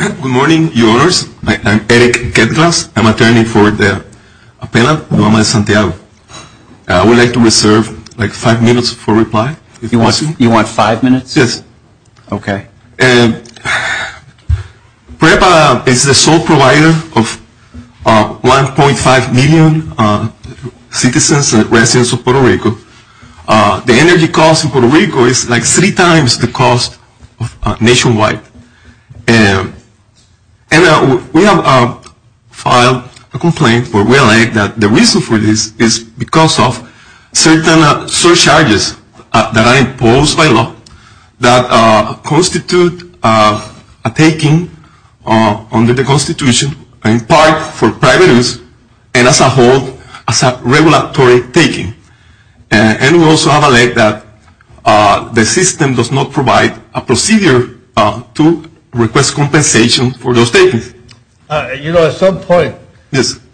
Good morning, your honors. I'm Eric Kettglass. I'm attorney for the appellant, Obama de Santiago. I would like to reserve like five minutes for reply. You want five minutes? Yes. Okay. And PREPA is the sole provider of 1.5 million citizens and residents of Puerto Rico. The energy cost in Puerto Rico is like three times the cost nationwide. And we have filed a complaint where we allege that the reason for this is because of certain surcharges that are imposed by law that constitute a taking under the Constitution in part for private use and as a whole as a regulatory taking. And we also have alleged that the system does not provide a procedure to request compensation for those takings. You know, at some point,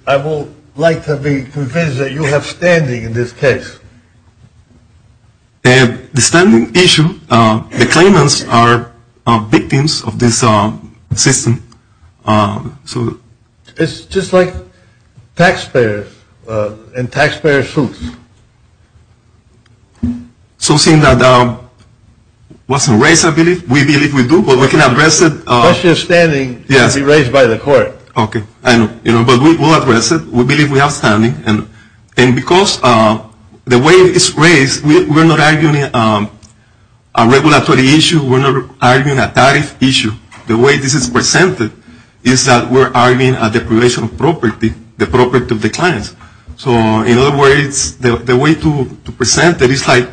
I would like to be convinced that you have standing in this case. The standing issue, the claimants are victims of this system. It's just like taxpayers and taxpayer suits. So seeing that wasn't raised, I believe, we believe we do, but we can address it. The question of standing should be raised by the court. Okay. But we will address it. We believe we have standing. And because the way it's raised, we're not arguing a regulatory issue. We're not arguing a tariff issue. The way this is presented is that we're arguing a deprivation of property, the property of the clients. So in other words, the way to present it is like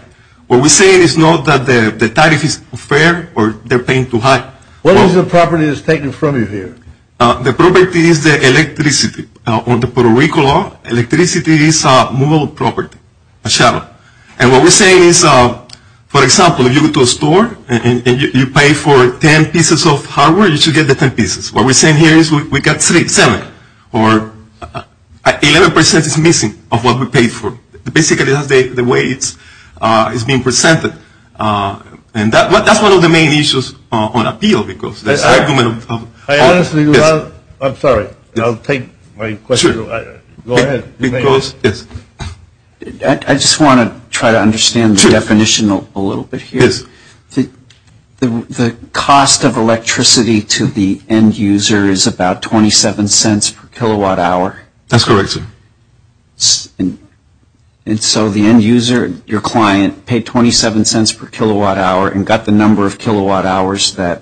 what we're saying is not that the tariff is unfair or they're paying too high. What is the property that's taken from you here? The property is the electricity. On the Puerto Rico law, electricity is a mobile property, a shuttle. And what we're saying is, for example, if you go to a store and you pay for 10 pieces of hardware, you should get the 10 pieces. What we're saying here is we got seven or 11% is missing of what we paid for. Basically, that's the way it's being presented. And that's one of the main issues on appeal. I'm sorry. I'll take my question. Go ahead. Yes. I just want to try to understand the definition a little bit here. Yes. The cost of electricity to the end user is about 27 cents per kilowatt hour. That's correct, sir. And so the end user, your client, paid 27 cents per kilowatt hour and got the number of kilowatt hours that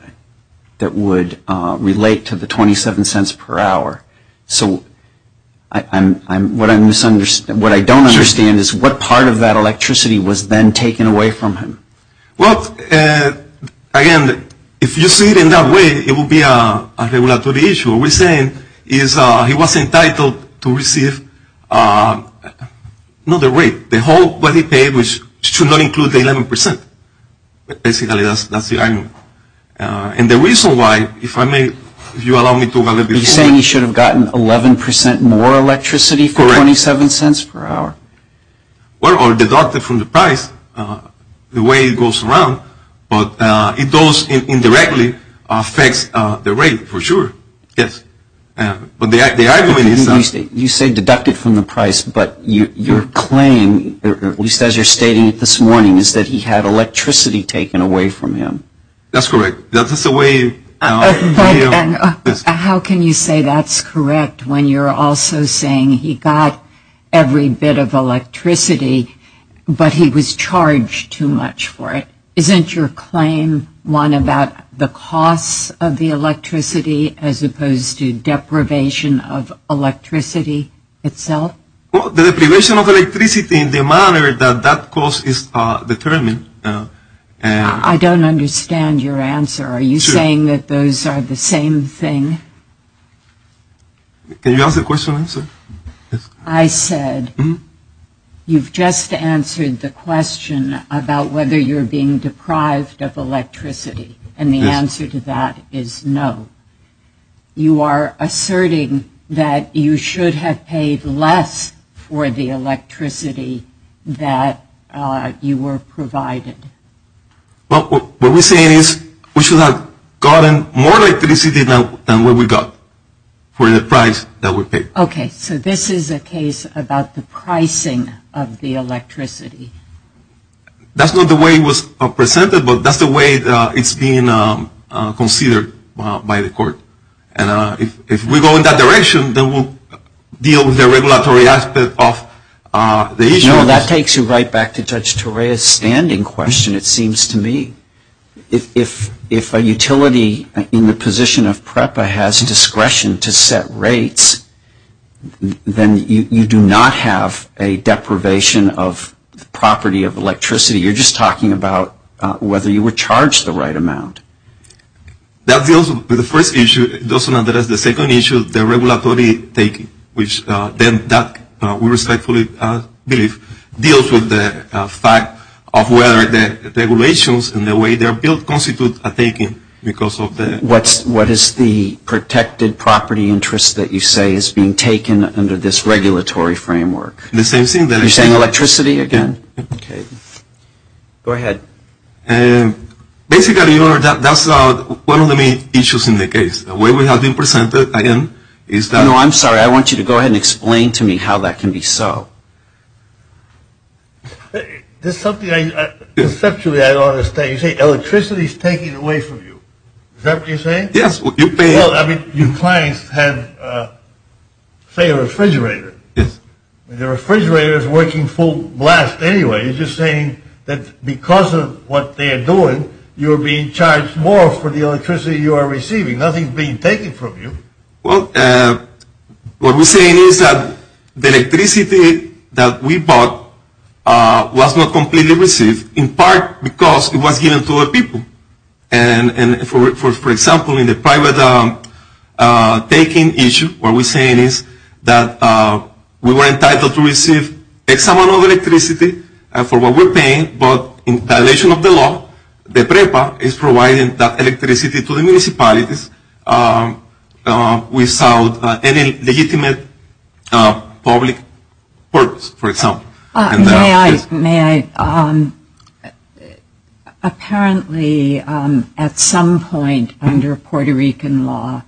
would relate to the 27 cents per hour. So what I don't understand is what part of that electricity was then taken away from him? Well, again, if you see it in that way, it would be a regulatory issue. What we're saying is he was entitled to receive not the rate, the whole what he paid, which should not include the 11%. Basically, that's the argument. And the reason why, if I may, if you allow me to go a little bit further. Are you saying he should have gotten 11% more electricity for 27 cents per hour? Well, deducted from the price, the way it goes around. But it does indirectly affect the rate for sure. Yes. But the argument is. You say deducted from the price. But your claim, at least as you're stating it this morning, is that he had electricity taken away from him. That's correct. That is the way. How can you say that's correct when you're also saying he got every bit of electricity, but he was charged too much for it? Isn't your claim one about the cost of the electricity as opposed to deprivation of electricity itself? Well, the deprivation of electricity in the manner that that cost is determined. I don't understand your answer. Are you saying that those are the same thing? Can you ask the question and answer? I said you've just answered the question about whether you're being deprived of electricity. And the answer to that is no. You are asserting that you should have paid less for the electricity that you were provided. What we're saying is we should have gotten more electricity than what we got for the price that we paid. Okay. So this is a case about the pricing of the electricity. That's not the way it was presented, but that's the way it's being considered by the court. And if we go in that direction, then we'll deal with the regulatory aspect of the issue. You know, that takes you right back to Judge Torea's standing question, it seems to me. If a utility in the position of PREPA has discretion to set rates, then you do not have a deprivation of the property of electricity. You're just talking about whether you were charged the right amount. That deals with the first issue. It doesn't address the second issue, the regulatory taking, which then that, we respectfully believe, deals with the fact of whether the regulations and the way they're built constitute a taking because of the- What is the protected property interest that you say is being taken under this regulatory framework? The same thing that- You're saying electricity again? Yeah. Okay. Go ahead. Basically, Your Honor, that's one of the main issues in the case. The way we have been presented, again, is that- No, I'm sorry. I want you to go ahead and explain to me how that can be so. This is something I- Conceptually, I don't understand. You say electricity is taken away from you. Is that what you're saying? Yes. Well, I mean, your clients have, say, a refrigerator. Yes. And the refrigerator is working full blast anyway. You're just saying that because of what they're doing, you're being charged more for the electricity you are receiving. Nothing is being taken from you. Well, what we're saying is that the electricity that we bought was not completely received in part because it was given to other people. For example, in the private taking issue, what we're saying is that we were entitled to receive a sum of electricity for what we're paying, but in violation of the law, the PREPA is providing that electricity to the municipalities without any legitimate public purpose, for example. May I? Apparently, at some point under Puerto Rican law,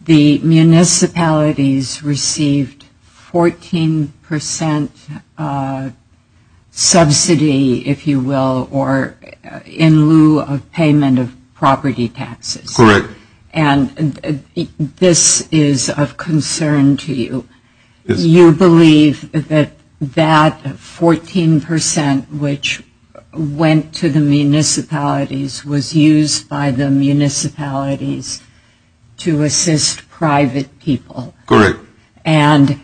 the municipalities received 14% subsidy, if you will, in lieu of payment of property taxes. Correct. And this is of concern to you. Yes. You believe that that 14%, which went to the municipalities, was used by the municipalities to assist private people. Correct. And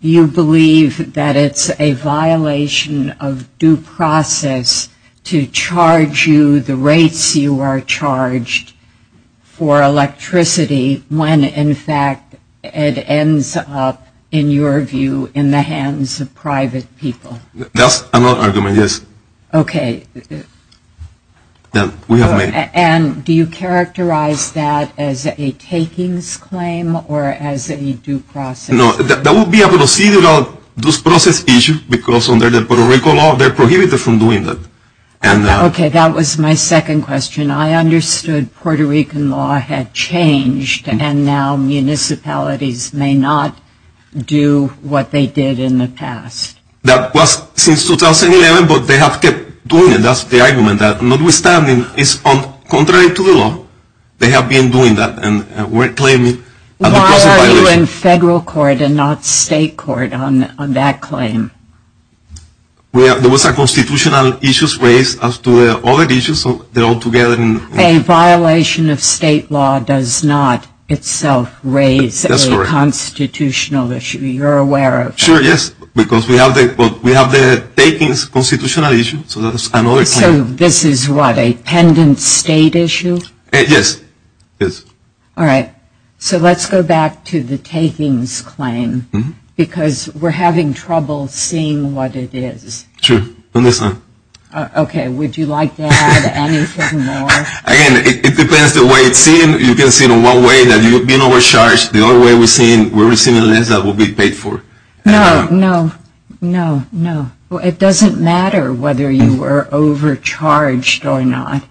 you believe that it's a violation of due process to charge you the rates you are charged for electricity when, in fact, it ends up, in your view, in the hands of private people. That's another argument, yes. Okay. And do you characterize that as a takings claim or as a due process? No. That would be a procedural due process issue because under the Puerto Rican law, they're prohibited from doing that. Okay. That was my second question. I understood Puerto Rican law had changed and now municipalities may not do what they did in the past. That was since 2011, but they have kept doing it. That's the argument, that notwithstanding, it's contrary to the law. They have been doing that and we're claiming a due process violation. Why are you in federal court and not state court on that claim? There was a constitutional issue raised as to the other issues, so they're all together. A violation of state law does not itself raise a constitutional issue. That's correct. You're aware of that. Sure, yes, because we have the takings constitutional issue, so that's another claim. So this is what, a pendant state issue? Yes, yes. All right. So let's go back to the takings claim because we're having trouble seeing what it is. Sure. Okay. Would you like to add anything more? Again, it depends the way it's seen. You can see it in one way that you've been overcharged. The only way we're seeing less than what we paid for. No, no, no, no. It doesn't matter whether you were overcharged or not.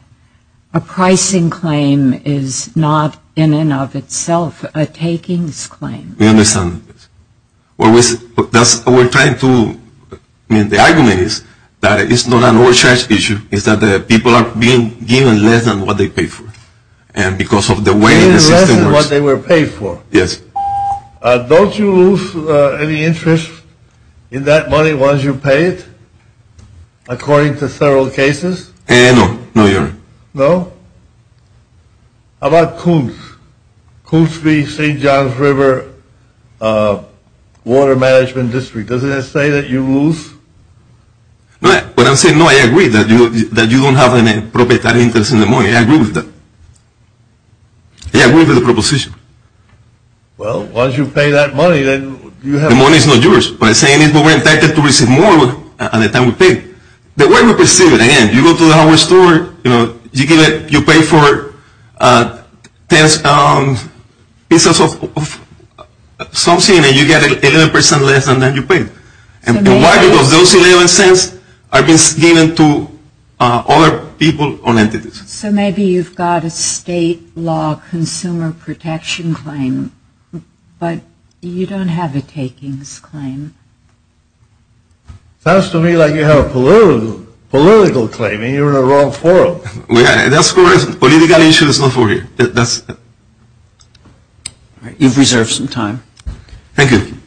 A pricing claim is not in and of itself a takings claim. We understand. We're trying to, the argument is that it's not an overcharged issue. It's that the people are being given less than what they paid for. And because of the way the system works. Being less than what they were paid for. Yes. Don't you lose any interest in that money once you pay it, according to several cases? No, no, Your Honor. No? How about Koontz? Koontz v. St. John's River Water Management District. Doesn't it say that you lose? But I'm saying, no, I agree that you don't have any proprietary interest in the money. I agree with that. I agree with the proposition. Well, once you pay that money, then you have to. The money is not yours. What I'm saying is we're entitled to receive more at the time we pay. The way we perceive it, again, you go to the hardware store, you know, you pay for ten pieces of something, and you get 11% less than you paid. And why? Because those 11 cents are being given to other people or entities. So maybe you've got a state law consumer protection claim, but you don't have a takings claim. Sounds to me like you have a political claim, and you're in the wrong forum. That's correct. Political issue is not for you. You've reserved some time. Thank you. Good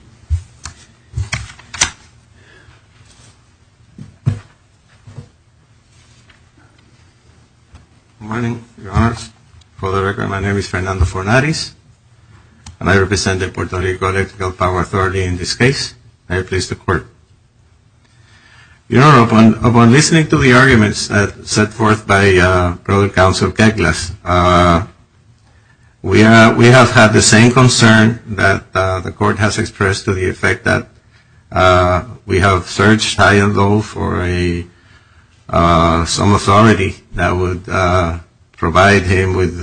morning, Your Honors. For the record, my name is Fernando Fornades, and I represent the Puerto Rico Electrical Power Authority in this case. I am pleased to report. Your Honor, upon listening to the arguments set forth by Provost Counsel Keglas, we have had the same concern that the Court has expressed to the effect that we have searched high and low for some authority that would provide him with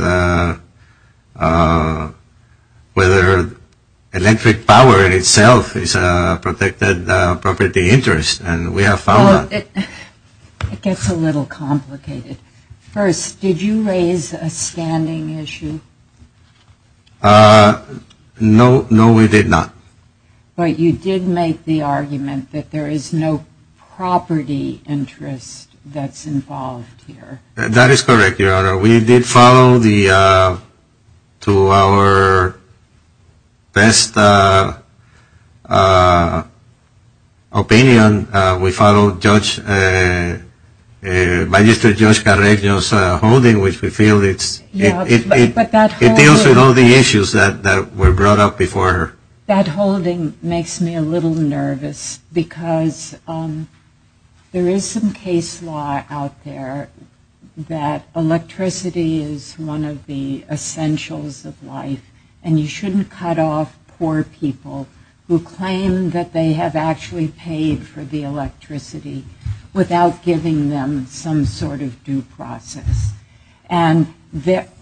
whether electric power in itself is a protected property interest. And we have found that. It gets a little complicated. First, did you raise a standing issue? No, we did not. But you did make the argument that there is no property interest that's involved here. That is correct, Your Honor. We did follow the, to our best opinion, we followed Judge, Magistrate Judge Carreño's holding, which we feel it deals with all the issues that were brought up before her. That holding makes me a little nervous because there is some case law out there that electricity is one of the essentials of life, and you shouldn't cut off poor people who claim that they have actually paid for the electricity without giving them some sort of due process. And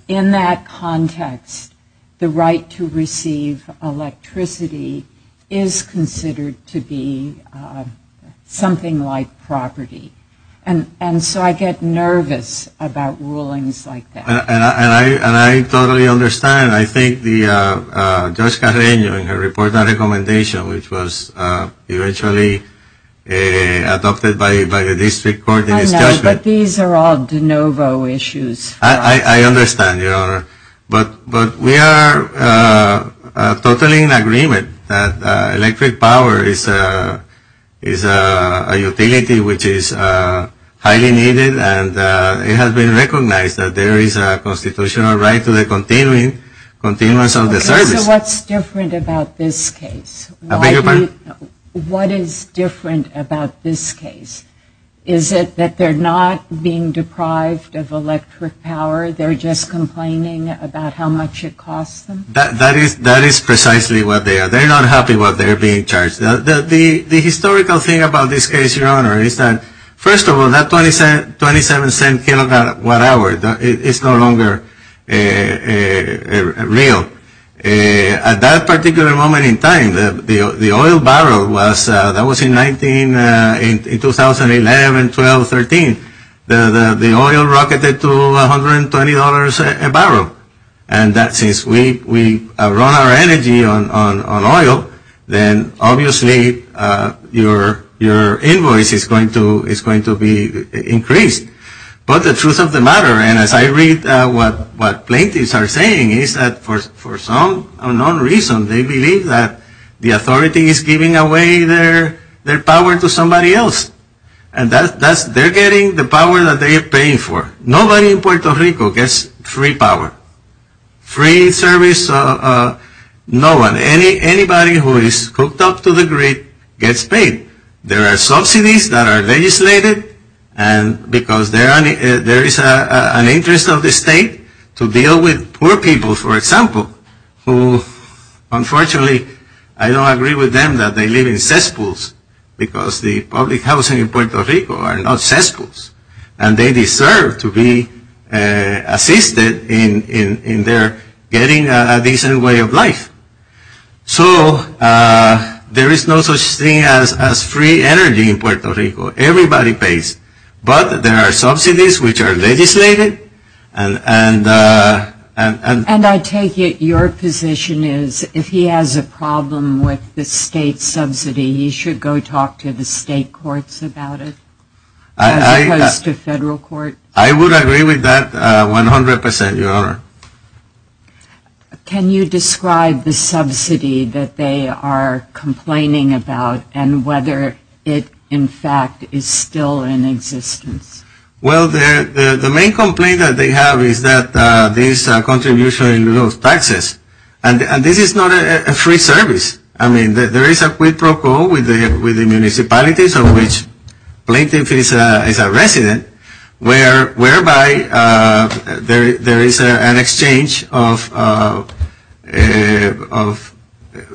in that context, the right to receive electricity is considered to be something like property. And so I get nervous about rulings like that. And I totally understand. I think Judge Carreño in her report on recommendation, which was eventually adopted by the district court in his judgment. I know, but these are all de novo issues. I understand, Your Honor. But we are totally in agreement that electric power is a utility which is highly needed, and it has been recognized that there is a constitutional right to the continuance of the service. Okay, so what's different about this case? I beg your pardon? What is different about this case? Is it that they're not being deprived of electric power? They're just complaining about how much it costs them? That is precisely what they are. They're not happy what they're being charged. The historical thing about this case, Your Honor, is that, first of all, that $0.27 kilowatt hour is no longer real. At that particular moment in time, the oil barrel was, that was in 2011, 12, 13. The oil rocketed to $120 a barrel. And since we run our energy on oil, then obviously your invoice is going to be increased. But the truth of the matter, and as I read what plaintiffs are saying, is that for some unknown reason they believe that the authority is giving away their power to somebody else. And they're getting the power that they are paying for. Nobody in Puerto Rico gets free power, free service. No one, anybody who is hooked up to the grid gets paid. There are subsidies that are legislated because there is an interest of the state to deal with poor people, for example, who, unfortunately, I don't agree with them that they live in cesspools because the public housing in Puerto Rico are not cesspools. And they deserve to be assisted in their getting a decent way of life. So there is no such thing as free energy in Puerto Rico. Everybody pays. But there are subsidies which are legislated. And I take it your position is if he has a problem with the state subsidy, he should go talk to the state courts about it as opposed to federal court? I would agree with that 100 percent, Your Honor. Can you describe the subsidy that they are complaining about and whether it, in fact, is still in existence? Well, the main complaint that they have is that this contribution in those taxes. And this is not a free service. I mean, there is a quid pro quo with the municipalities of which Plaintiff is a resident whereby there is an exchange of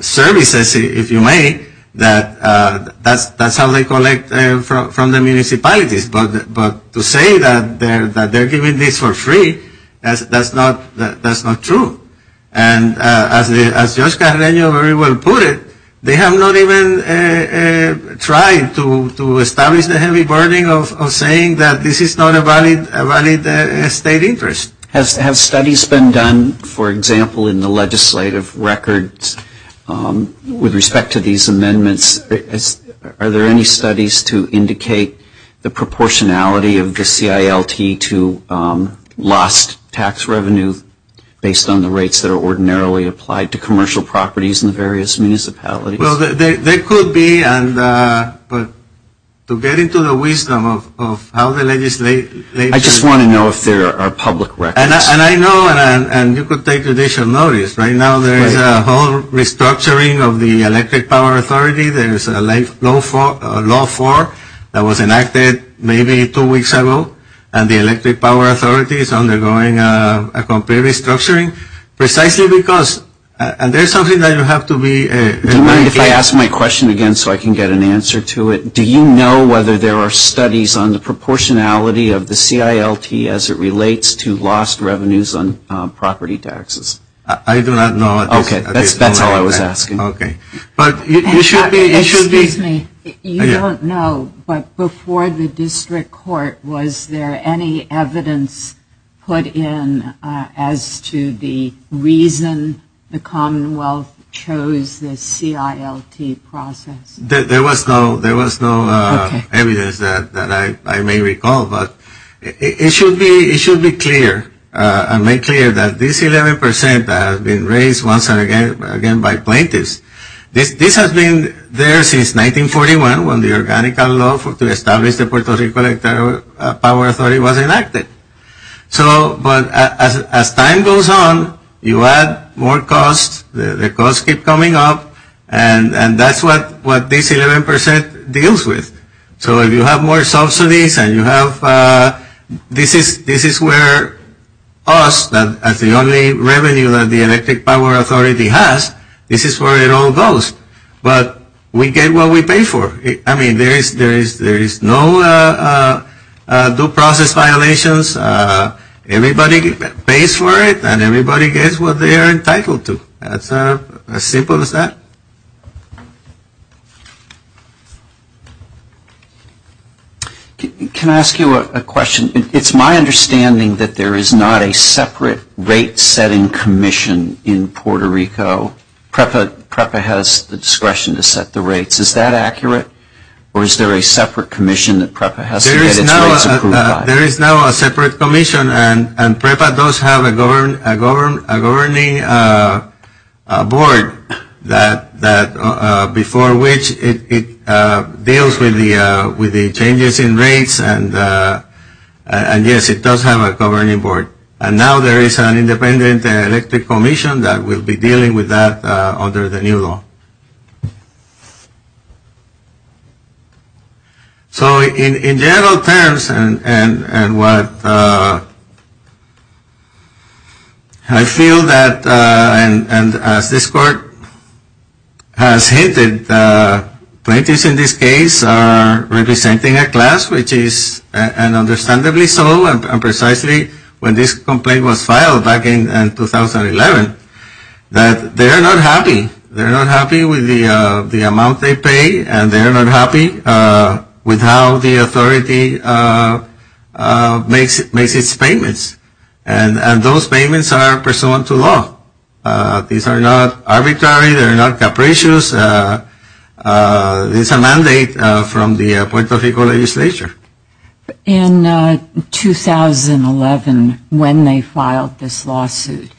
services, if you may. That's how they collect from the municipalities. But to say that they're giving this for free, that's not true. And as Judge Carreno very well put it, they have not even tried to establish the heavy burden of saying that this is not a valid state interest. Have studies been done, for example, in the legislative records with respect to these amendments? Are there any studies to indicate the proportionality of the CILT to lost tax revenue based on the rates that are ordinarily applied to commercial properties in the various municipalities? Well, there could be. But to get into the wisdom of how the legislature- I just want to know if there are public records. And I know. And you could take judicial notice. Right now there is a whole restructuring of the Electric Power Authority. There is a law 4 that was enacted maybe two weeks ago. And the Electric Power Authority is undergoing a complete restructuring precisely because- and there is something that you have to be- Do you mind if I ask my question again so I can get an answer to it? Do you know whether there are studies on the proportionality of the CILT as it relates to lost revenues on property taxes? I do not know. Okay. That's all I was asking. Okay. But you should be- Excuse me. You don't know. But before the district court, was there any evidence put in as to the reason the Commonwealth chose the CILT process? There was no evidence that I may recall. It should be clear and made clear that this 11% that has been raised once again by plaintiffs, this has been there since 1941 when the organic law to establish the Puerto Rico Electric Power Authority was enacted. But as time goes on, you add more costs. The costs keep coming up. And that's what this 11% deals with. So if you have more subsidies and you have- This is where us, as the only revenue that the Electric Power Authority has, this is where it all goes. But we get what we pay for. I mean, there is no due process violations. Everybody pays for it and everybody gets what they are entitled to. That's as simple as that. Can I ask you a question? It's my understanding that there is not a separate rate setting commission in Puerto Rico. PREPA has the discretion to set the rates. Is that accurate? Or is there a separate commission that PREPA has to get its rates approved by? There is no separate commission. And PREPA does have a governing board before which it deals with the changes in rates. And, yes, it does have a governing board. And now there is an independent electric commission that will be dealing with that under the new law. So in general terms and what I feel that, and as this court has hinted, plaintiffs in this case are representing a class which is, and understandably so, and precisely when this complaint was filed back in 2011, that they are not happy. They are not happy with the amount they pay and they are not happy with how the authority makes its payments. And those payments are pursuant to law. These are not arbitrary. They are not capricious. It's a mandate from the Puerto Rico legislature. In 2011, when they filed this lawsuit,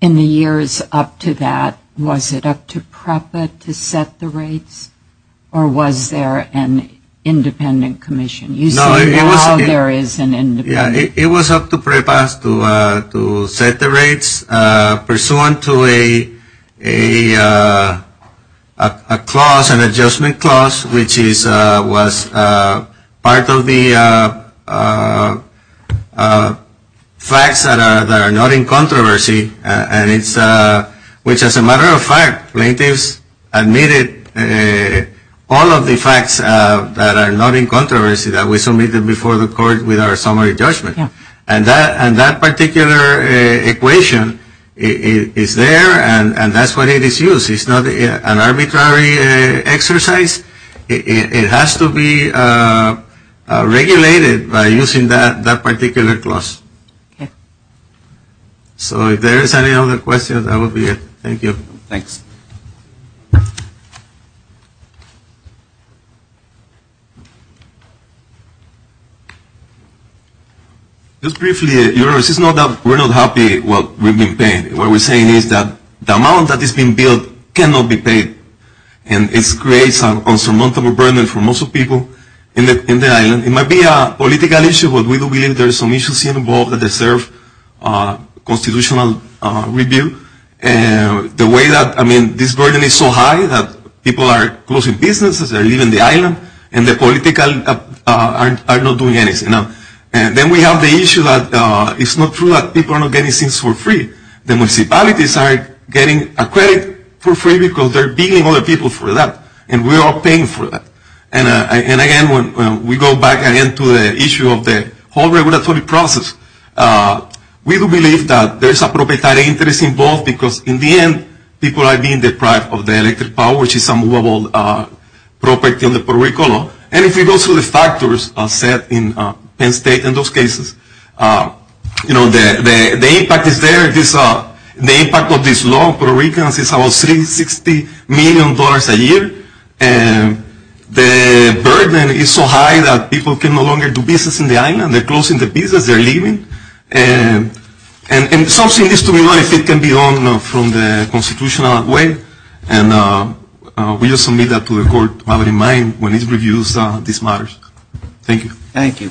in the years up to that, was it up to PREPA to set the rates or was there an independent commission? You say now there is an independent commission. It was up to PREPA to set the rates pursuant to a clause, which was part of the facts that are not in controversy, which as a matter of fact, plaintiffs admitted all of the facts that are not in controversy that were submitted before the court with our summary judgment. And that particular equation is there and that's what it is used. It's not an arbitrary exercise. It has to be regulated by using that particular clause. So if there is any other questions, that will be it. Thank you. Thanks. Just briefly, it's not that we're not happy with what we've been paying. What we're saying is that the amount that is being billed cannot be paid. And it creates an insurmountable burden for most people in the island. It might be a political issue, but we do believe there are some issues involved that deserve constitutional review. The way that, I mean, this burden is so high that people are closing businesses, they're leaving the island, and the political are not doing anything. And then we have the issue that it's not true that people are not getting things for free. The municipalities are getting a credit for free because they're billing other people for that. And we're all paying for that. And again, when we go back again to the issue of the whole regulatory process, we do believe that there is a proprietary interest involved because in the end, people are being deprived of their electric power, which is a movable property in the Puerto Rico. And if we go through the factors set in Penn State in those cases, you know, the impact is there. The impact of this law in Puerto Rico is about $360 million a year. And the burden is so high that people can no longer do business in the island. They're closing the business. They're leaving. And something needs to be done if it can be done from the constitutional way. And we just submit that to the court to have it in mind when it reviews these matters. Thank you. Thank you. Thank you.